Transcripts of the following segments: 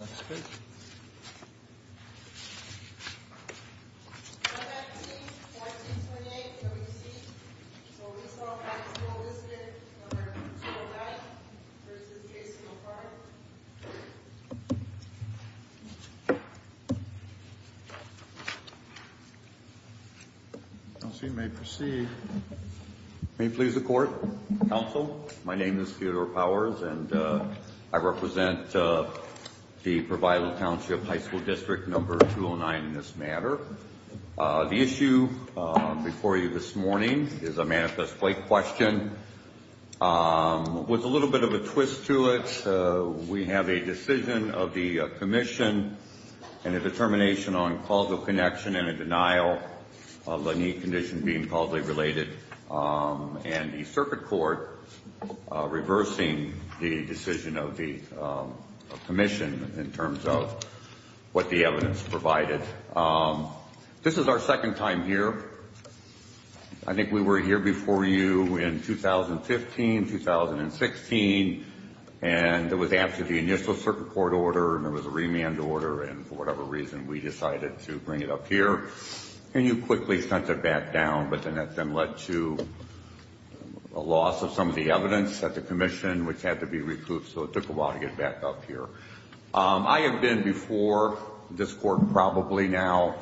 17-1428 W.C. So we saw a high school visitor, whether it was Joe Matt v. Jason O'Farrill. Council, my name is Theodore Powers and I represent the Provisional Township High School District number 209 in this matter. The issue before you this morning is a manifest plate question with a little bit of a twist to it. We have a decision of the commission and a determination on causal connection and a denial of the knee condition being causally related. And the circuit court reversing the decision of the commission in terms of what the evidence provided. This is our second time here. I think we were here before you in 2015, 2016. And it was after the initial circuit court order and there was a remand order and for whatever reason we decided to bring it up here. And you quickly sent it back down, but then that then led to a loss of some of the evidence at the commission which had to be recouped. So it took a while to get back up here. I have been before this court probably now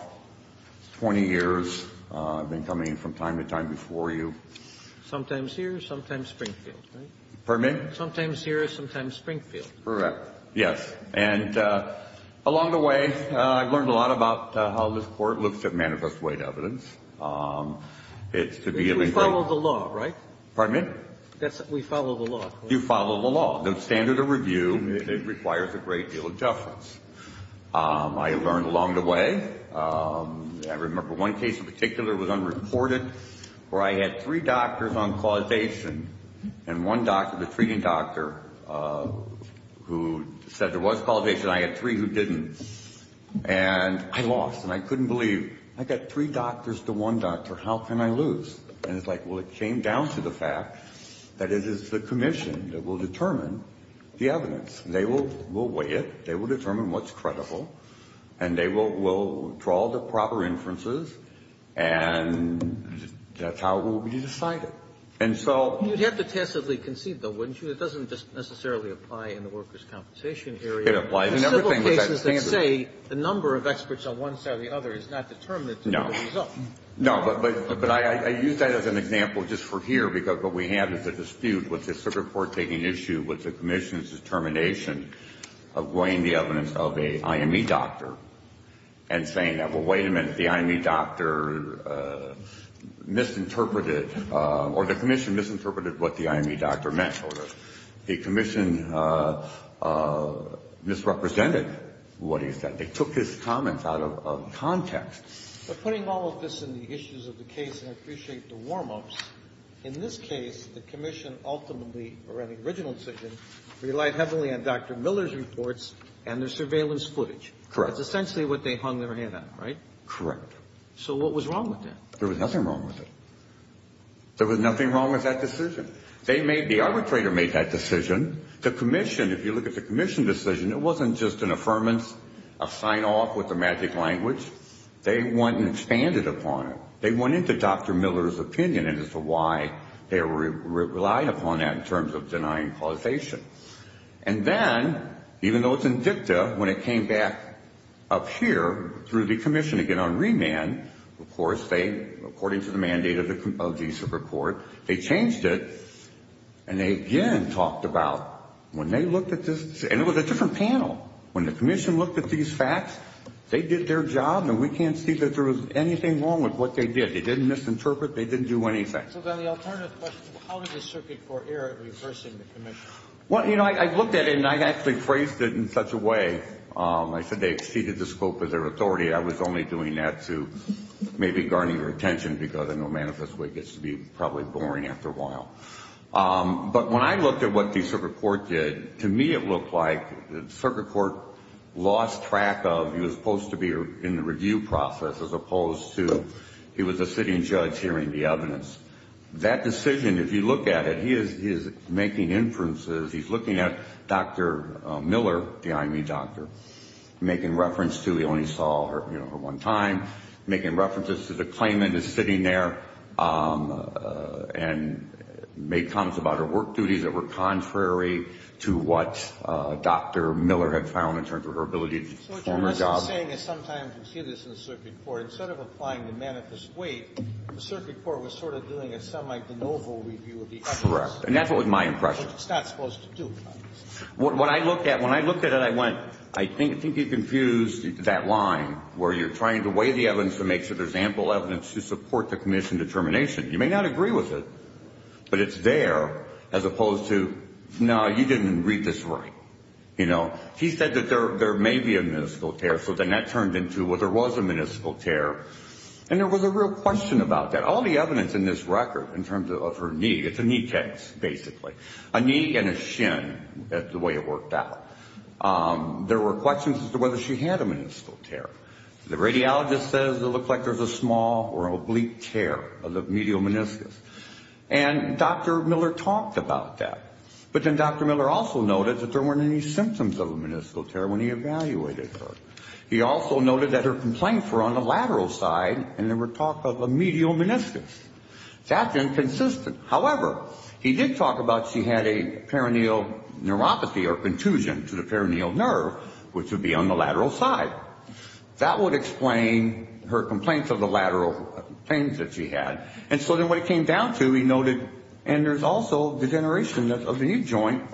20 years. I've been coming from time to time before you. Sometimes here, sometimes Springfield. Pardon me? Sometimes here, sometimes Springfield. Correct. Yes. And along the way, I've learned a lot about how this court looks at manifest plate evidence. It's to be able to follow the law, right? Pardon me? We follow the law. You follow the law. The standard of review, it requires a great deal of deference. I learned along the way, I remember one case in particular was unreported where I had three doctors on causation and one doctor, the treating doctor, who said there was causation. I had three who didn't. And I lost and I couldn't believe. I got three doctors to one doctor. How can I lose? And it's like, well, it came down to the fact that it is the commission that will determine the evidence. They will weigh it. They will determine what's credible. And they will draw the proper inferences and that's how it will be decided. And so You'd have to tacitly concede, though, wouldn't you? It doesn't just necessarily apply in the workers' compensation area. It applies in everything with that standard. There are several cases that say the number of experts on one side or the other is not determined to be the result. No. No, but I use that as an example just for here because what we have is a dispute with the circuit court taking issue with the commission's determination of weighing the evidence of an IME doctor and saying, well, wait a minute, the IME doctor misinterpreted or the commission misinterpreted what the IME doctor meant. The commission misrepresented what he said. They took his comments out of context. But putting all of this in the issues of the case, and I appreciate the warm-ups, in this case, the commission ultimately, or any original decision, relied heavily on Dr. Miller's reports and their surveillance footage. Correct. That's essentially what they hung their head on, right? Correct. So what was wrong with that? There was nothing wrong with it. There was nothing wrong with that decision. The arbitrator made that decision. The commission, if you look at the commission decision, it wasn't just an affirmance, a sign-off with the magic language. They went and expanded upon it. They went into Dr. Miller's opinion as to why they relied upon that in terms of denying causation. And then, even though it's in dicta, when it came back up here through the commission again on remand, of course, they, according to the mandate of the Super Court, they changed it, and they again talked about when they looked at this, and it was a different panel. When the commission looked at these facts, they did their job, and we can't see that there was anything wrong with what they did. They didn't misinterpret. They didn't do anything. So then the alternative question, how did the circuit court err at reversing the commission? Well, you know, I looked at it, and I actually phrased it in such a way. I said they exceeded the scope of their authority. I was only doing that to maybe garner your attention because I know manifestly it gets to be probably boring after a while. But when I looked at what the circuit court did, to me it looked like the circuit court lost track of, he was supposed to be in the review process as opposed to he was a sitting judge hearing the evidence. That decision, if you look at it, he is making inferences. He's looking at Dr. Miller, the IME doctor, making reference to he only saw her one time, making references to the claimant is sitting there and made comments about her work duties that were contrary to what Dr. Miller had found in terms of her ability to perform her job. So what you're saying is sometimes we see this in the circuit court. Instead of applying the manifest weight, the circuit court was sort of doing a semi-de novo review of the evidence. Correct. And that's what was my impression. Which it's not supposed to do. When I looked at it, I went, I think you confused that line where you're trying to weigh the evidence to make sure there's ample evidence to support the commission determination. You may not agree with it, but it's there as opposed to, no, you didn't read this right. You know, he said that there may be a meniscal tear, so then that turned into, well, there was a meniscal tear. And there was a real question about that. All the evidence in this record in terms of her knee, it's a knee case, basically, a knee and a shin is the way it worked out. There were questions as to whether she had a meniscal tear. The radiologist says it looked like there was a small or an oblique tear of the medial meniscus. And Dr. Miller talked about that. But then Dr. Miller also noted that there weren't any symptoms of a meniscal tear when he evaluated her. He also noted that her complaints were on the lateral side and there were talk of a medial meniscus. That's inconsistent. However, he did talk about she had a perineal neuropathy or contusion to the perineal nerve, which would be on the lateral side. That would explain her complaints of the lateral pains that she had. And so then what it came down to, he noted, and there's also degeneration of the knee joint.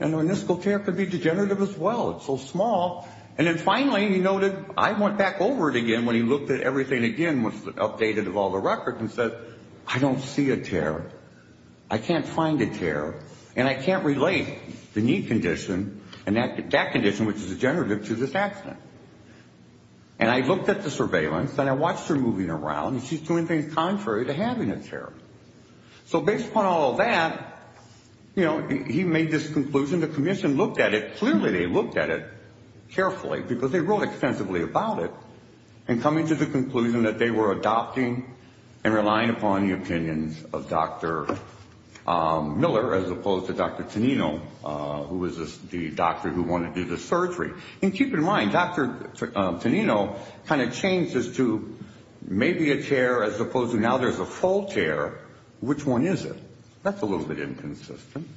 And a meniscal tear could be degenerative as well. It's so small. And then finally, he noted, I went back over it again when he looked at everything again, and said, I don't see a tear. I can't find a tear. And I can't relate the knee condition and that condition, which is degenerative, to this accident. And I looked at the surveillance and I watched her moving around. She's doing things contrary to having a tear. So based upon all of that, you know, he made this conclusion. The commission looked at it. Clearly, they looked at it carefully because they wrote extensively about it. And coming to the conclusion that they were adopting and relying upon the opinions of Dr. Miller as opposed to Dr. Tonino, who was the doctor who wanted to do the surgery. And keep in mind, Dr. Tonino kind of changed this to maybe a tear as opposed to now there's a full tear. Which one is it? That's a little bit inconsistent.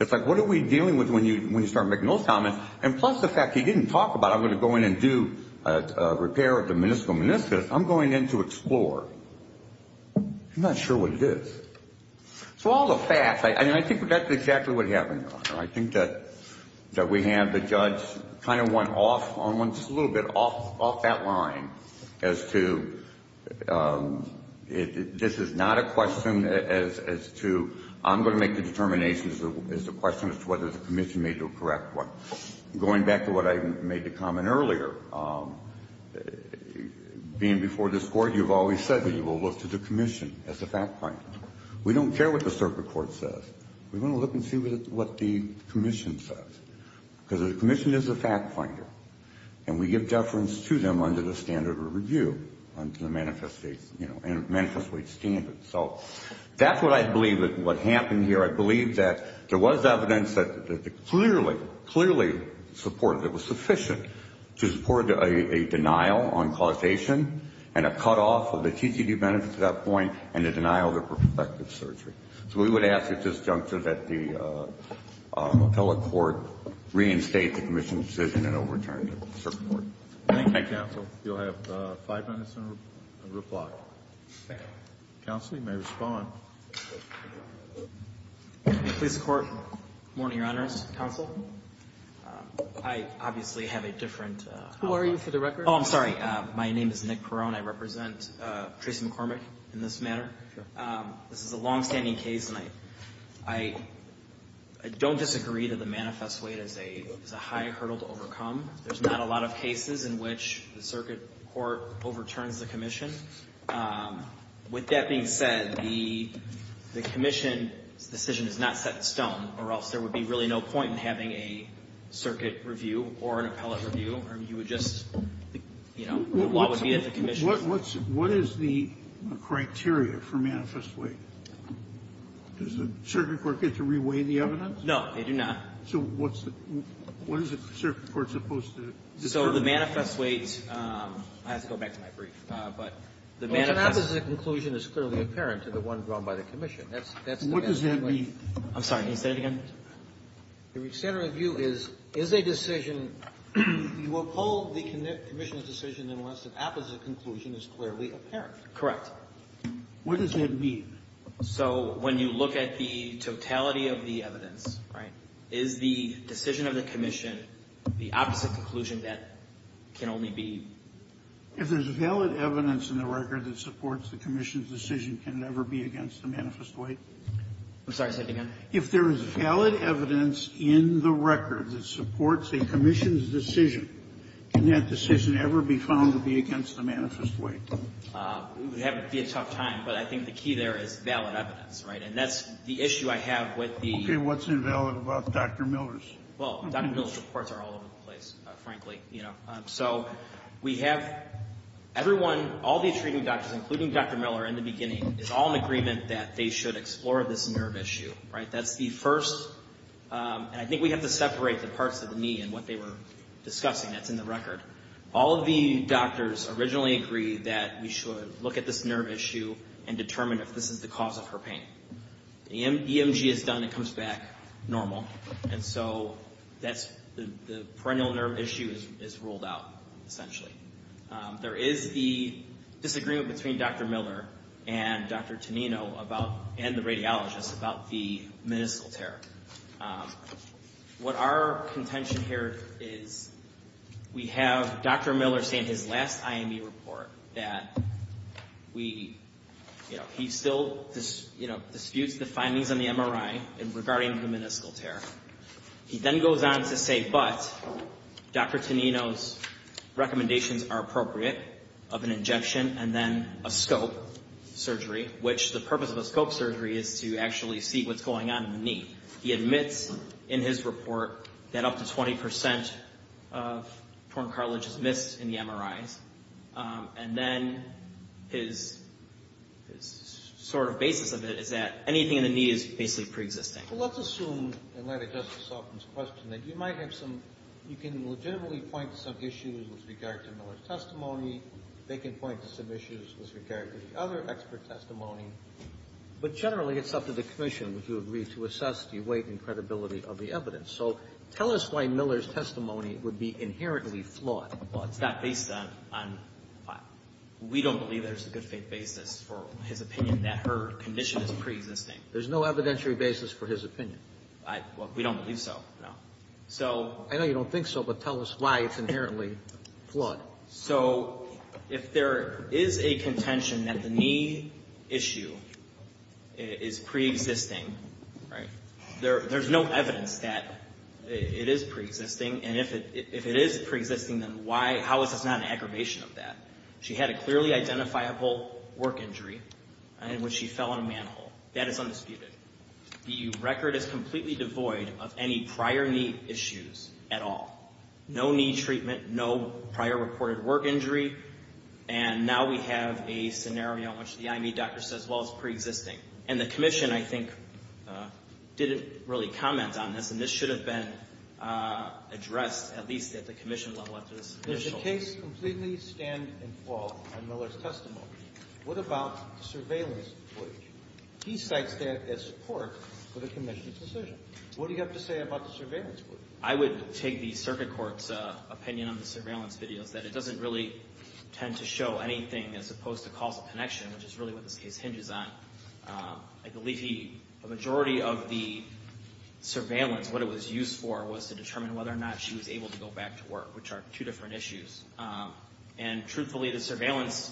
It's like, what are we dealing with when you start making those comments? And plus the fact he didn't talk about, I'm going to go in and do a repair of the meniscal meniscus. I'm going in to explore. I'm not sure what it is. So all the facts, and I think that's exactly what happened. I think that we have the judge kind of went off on one, just a little bit off that line as to, this is not a question as to, I'm going to make the determination as to whether the commission made the correct one. Going back to what I made the comment earlier, being before this Court, you've always said that you will look to the commission as a fact finder. We don't care what the circuit court says. We want to look and see what the commission says. Because the commission is a fact finder. And we give deference to them under the standard of review, under the Manifest Wage Standards. So that's what I believe is what happened here. I believe that there was evidence that clearly, clearly supported it. It was sufficient to support a denial on causation and a cutoff of the TGD benefits at that point and a denial of the prospective surgery. So we would ask at this juncture that the appellate court reinstate the commission's decision and overturn it. Thank you. Thank you, counsel. You'll have five minutes in reply. Counsel, you may respond. Police court. Good morning, Your Honors. Counsel. I obviously have a different. Who are you for the record? Oh, I'm sorry. My name is Nick Perone. I represent Tracy McCormick in this matter. This is a longstanding case, and I don't disagree that the Manifest Wage is a high hurdle to overcome. There's not a lot of cases in which the circuit court overturns the commission. With that being said, the commission's decision is not set in stone, or else there would be really no point in having a circuit review or an appellate review. You would just, you know, what would be at the commission's. So what is the criteria for Manifest Wage? Does the circuit court get to reweigh the evidence? No, they do not. So what's the – what is the circuit court supposed to determine? So the Manifest Wage – I have to go back to my brief. But the Manifest Wage – Well, an opposite conclusion is clearly apparent to the one drawn by the commission. That's the best way. What does that mean? Can you say that again? The extent of the view is, is a decision – you uphold the commission's decision unless an opposite conclusion is clearly apparent. Correct. What does that mean? So when you look at the totality of the evidence, right, is the decision of the commission the opposite conclusion that can only be? If there's valid evidence in the record that supports the commission's decision, can it ever be against the Manifest Wage? I'm sorry. Say it again. If there is valid evidence in the record that supports a commission's decision, can that decision ever be found to be against the Manifest Wage? It would be a tough time, but I think the key there is valid evidence, right? And that's the issue I have with the – Okay, what's invalid about Dr. Miller's? Well, Dr. Miller's reports are all over the place, frankly, you know. So we have everyone – all these treating doctors, including Dr. Miller in the beginning, is all in agreement that they should explore this nerve issue, right? That's the first – and I think we have to separate the parts of the knee and what they were discussing that's in the record. All of the doctors originally agreed that we should look at this nerve issue and determine if this is the cause of her pain. EMG is done, it comes back normal. And so that's – the perennial nerve issue is ruled out, essentially. There is the disagreement between Dr. Miller and Dr. Tonino and the radiologist about the meniscal tear. What our contention here is we have Dr. Miller say in his last IME report that he still disputes the findings on the MRI regarding the meniscal tear. He then goes on to say, but Dr. Tonino's recommendations are appropriate of an injection and then a scope surgery, which the purpose of a scope surgery is to actually see what's going on in the knee. He admits in his report that up to 20% of torn cartilage is missed in the MRIs. And then his sort of basis of it is that anything in the knee is basically preexisting. Well, let's assume in light of Justice Sotin's question that you might have some – you can legitimately point to some issues with regard to Miller's testimony. They can point to some issues with regard to the other expert testimony. But generally, it's up to the commission, would you agree, to assess the weight and credibility of the evidence. So tell us why Miller's testimony would be inherently flawed. Well, it's not based on – we don't believe there's a good faith basis for his opinion that her condition is preexisting. There's no evidentiary basis for his opinion. Well, we don't believe so, no. I know you don't think so, but tell us why it's inherently flawed. So if there is a contention that the knee issue is preexisting, right, there's no evidence that it is preexisting. And if it is preexisting, then why – how is this not an aggravation of that? She had a clearly identifiable work injury in which she fell on a manhole. That is undisputed. The record is completely devoid of any prior knee issues at all. No knee treatment. No prior reported work injury. And now we have a scenario in which the IME doctor says, well, it's preexisting. And the commission, I think, didn't really comment on this, and this should have been addressed at least at the commission level after this initial hearing. Does the case completely stand and fall on Miller's testimony? What about the surveillance footage? He cites that as support for the commission's decision. What do you have to say about the surveillance footage? I would take the circuit court's opinion on the surveillance videos, that it doesn't really tend to show anything as opposed to causal connection, which is really what this case hinges on. I believe the majority of the surveillance, what it was used for, was to determine whether or not she was able to go back to work, which are two different issues. And truthfully, the surveillance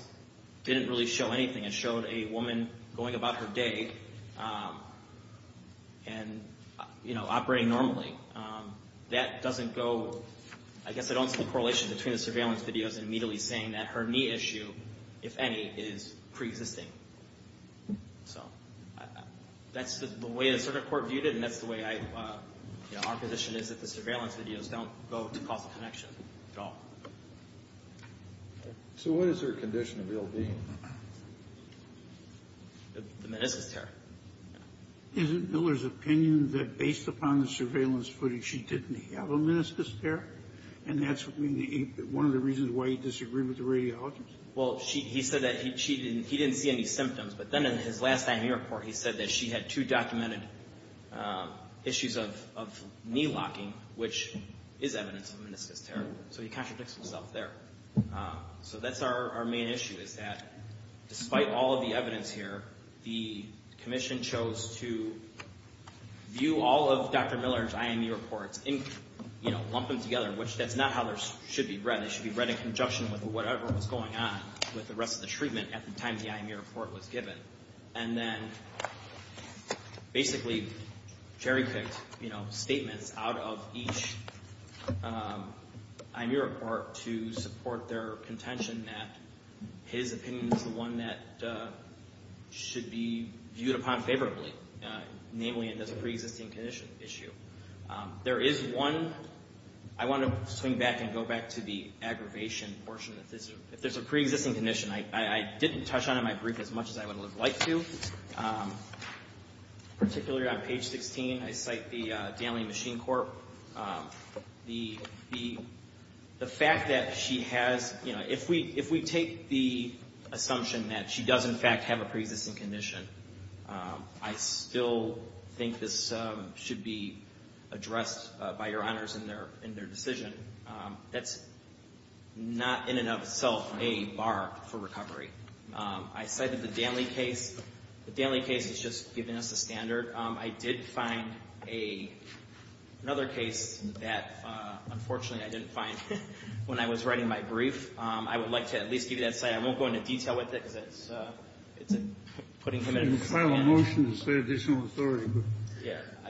didn't really show anything. It showed a woman going about her day and operating normally. That doesn't go, I guess I don't see a correlation between the surveillance videos and immediately saying that her knee issue, if any, is preexisting. So that's the way the circuit court viewed it, and that's the way our position is that the surveillance videos don't go to causal connection at all. So what is her condition of ill-being? The meniscus tear. Isn't Miller's opinion that based upon the surveillance footage she didn't have a meniscus tear? And that's one of the reasons why he disagreed with the radiologist? Well, he said that he didn't see any symptoms, but then in his last IME report he said that she had two documented issues of knee locking, which is evidence of a meniscus tear. So he contradicts himself there. So that's our main issue, is that despite all of the evidence here, the commission chose to view all of Dr. Miller's IME reports and lump them together, which that's not how they should be read. They should be read in conjunction with whatever was going on with the rest of the treatment at the time the IME report was given. And then basically cherry-picked statements out of each IME report to support their contention that his opinion is the one that should be viewed upon favorably, namely it is a preexisting condition issue. There is one, I want to swing back and go back to the aggravation portion. If there's a preexisting condition, I didn't touch on it in my brief as much as I would have liked to. Particularly on page 16, I cite the Daly Machine Corp. The fact that she has, you know, if we take the assumption that she does in fact have a preexisting condition, I still think this should be addressed by your honors in their decision. That's not in and of itself a bar for recovery. I cited the Daly case. The Daly case is just giving us the standard. I did find another case that unfortunately I didn't find when I was writing my brief. I would like to at least give you that side. I won't go into detail with it because it's putting him at a disadvantage. I didn't file a motion to say additional authority.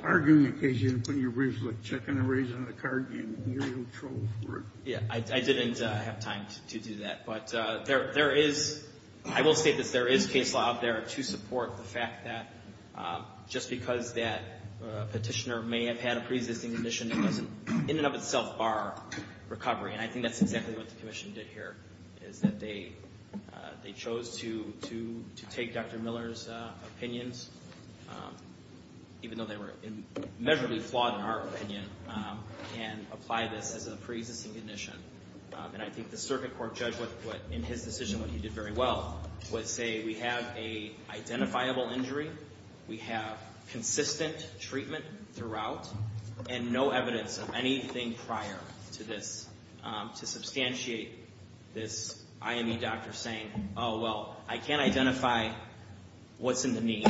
Arguing the case, you didn't put it in your brief. It's like checking a raise on the card game. You're in no trouble for it. Yeah, I didn't have time to do that. But there is, I will state this, there is case law out there to support the fact that just because that petitioner may have had a preexisting condition, it was in and of itself bar recovery. And I think that's exactly what the commission did here, is that they chose to take Dr. Miller's opinions, even though they were measurably flawed in our opinion, and apply this as a preexisting condition. And I think the circuit court judge, in his decision, what he did very well, was say we have an identifiable injury, we have consistent treatment throughout, and no evidence of anything prior to this, to substantiate this IME doctor saying, oh, well, I can't identify what's in the knee.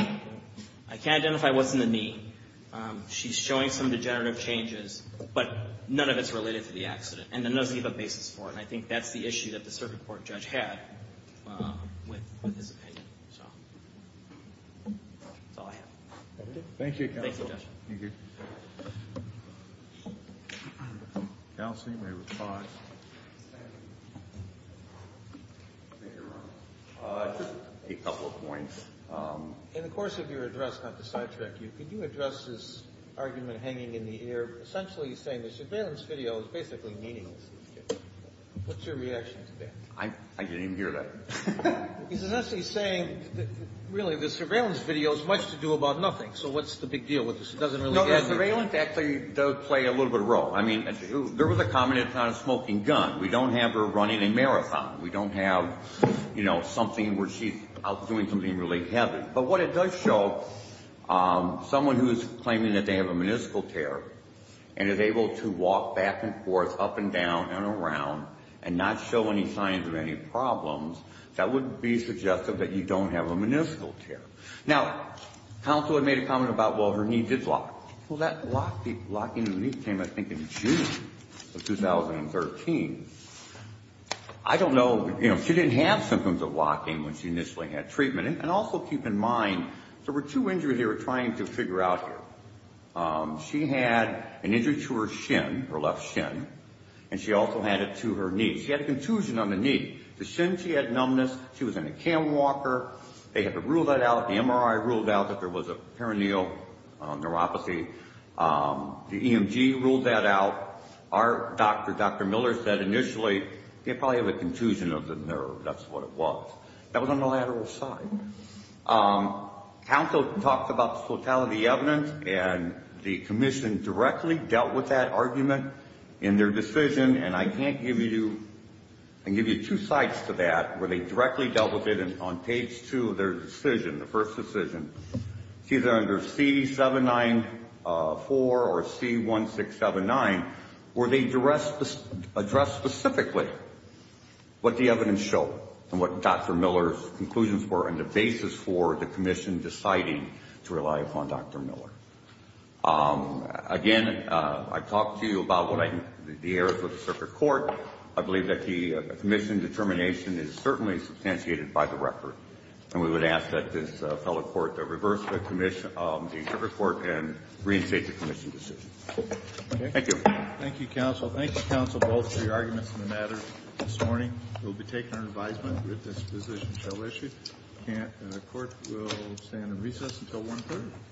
I can't identify what's in the knee. She's showing some degenerative changes, but none of it's related to the accident. And then there's the other basis for it. And I think that's the issue that the circuit court judge had with his opinion. So that's all I have. Thank you, counsel. Thank you, Judge. Thank you. Counsel, you may respond. A couple of points. In the course of your address, not to sidetrack you, could you address this argument hanging in the air, where you're essentially saying the surveillance video is basically meaningless? What's your reaction to that? I didn't even hear that. He's essentially saying, really, the surveillance video has much to do about nothing. So what's the big deal with this? It doesn't really add anything. No, the surveillance actually does play a little bit of a role. I mean, there was a comment about a smoking gun. We don't have her running a marathon. We don't have, you know, something where she's out doing something really heavy. But what it does show, someone who is claiming that they have a meniscal tear and is able to walk back and forth, up and down and around, and not show any signs of any problems, that would be suggestive that you don't have a meniscal tear. Now, counsel had made a comment about, well, her knee did lock. Well, that locking of the knee came, I think, in June of 2013. I don't know, you know, she didn't have symptoms of locking when she initially had treatment. And also keep in mind, there were two injuries they were trying to figure out here. She had an injury to her shin, her left shin, and she also had it to her knee. She had a contusion on the knee. The shin, she had numbness. She was in a cam walker. They had to rule that out. The MRI ruled out that there was a perineal neuropathy. The EMG ruled that out. Our doctor, Dr. Miller, said initially, you probably have a contusion of the nerve. That's what it was. That was on the lateral side. Counsel talked about the totality of the evidence, and the commission directly dealt with that argument in their decision. And I can't give you two sides to that. Where they directly dealt with it on page two of their decision, the first decision. It's either under C-794 or C-1679, where they addressed specifically what the evidence showed and what Dr. Miller's conclusions were and the basis for the commission deciding to rely upon Dr. Miller. Again, I talked to you about the errors of the circuit court. I believe that the commission determination is certainly substantiated by the record. And we would ask that this fellow court reverse the circuit court and reinstate the commission decision. Thank you. Thank you, counsel. Thank you, counsel, both for your arguments on the matter this morning. We'll be taking our advisement if this position shall issue. If we can't, the court will stand in recess until 1 p.m.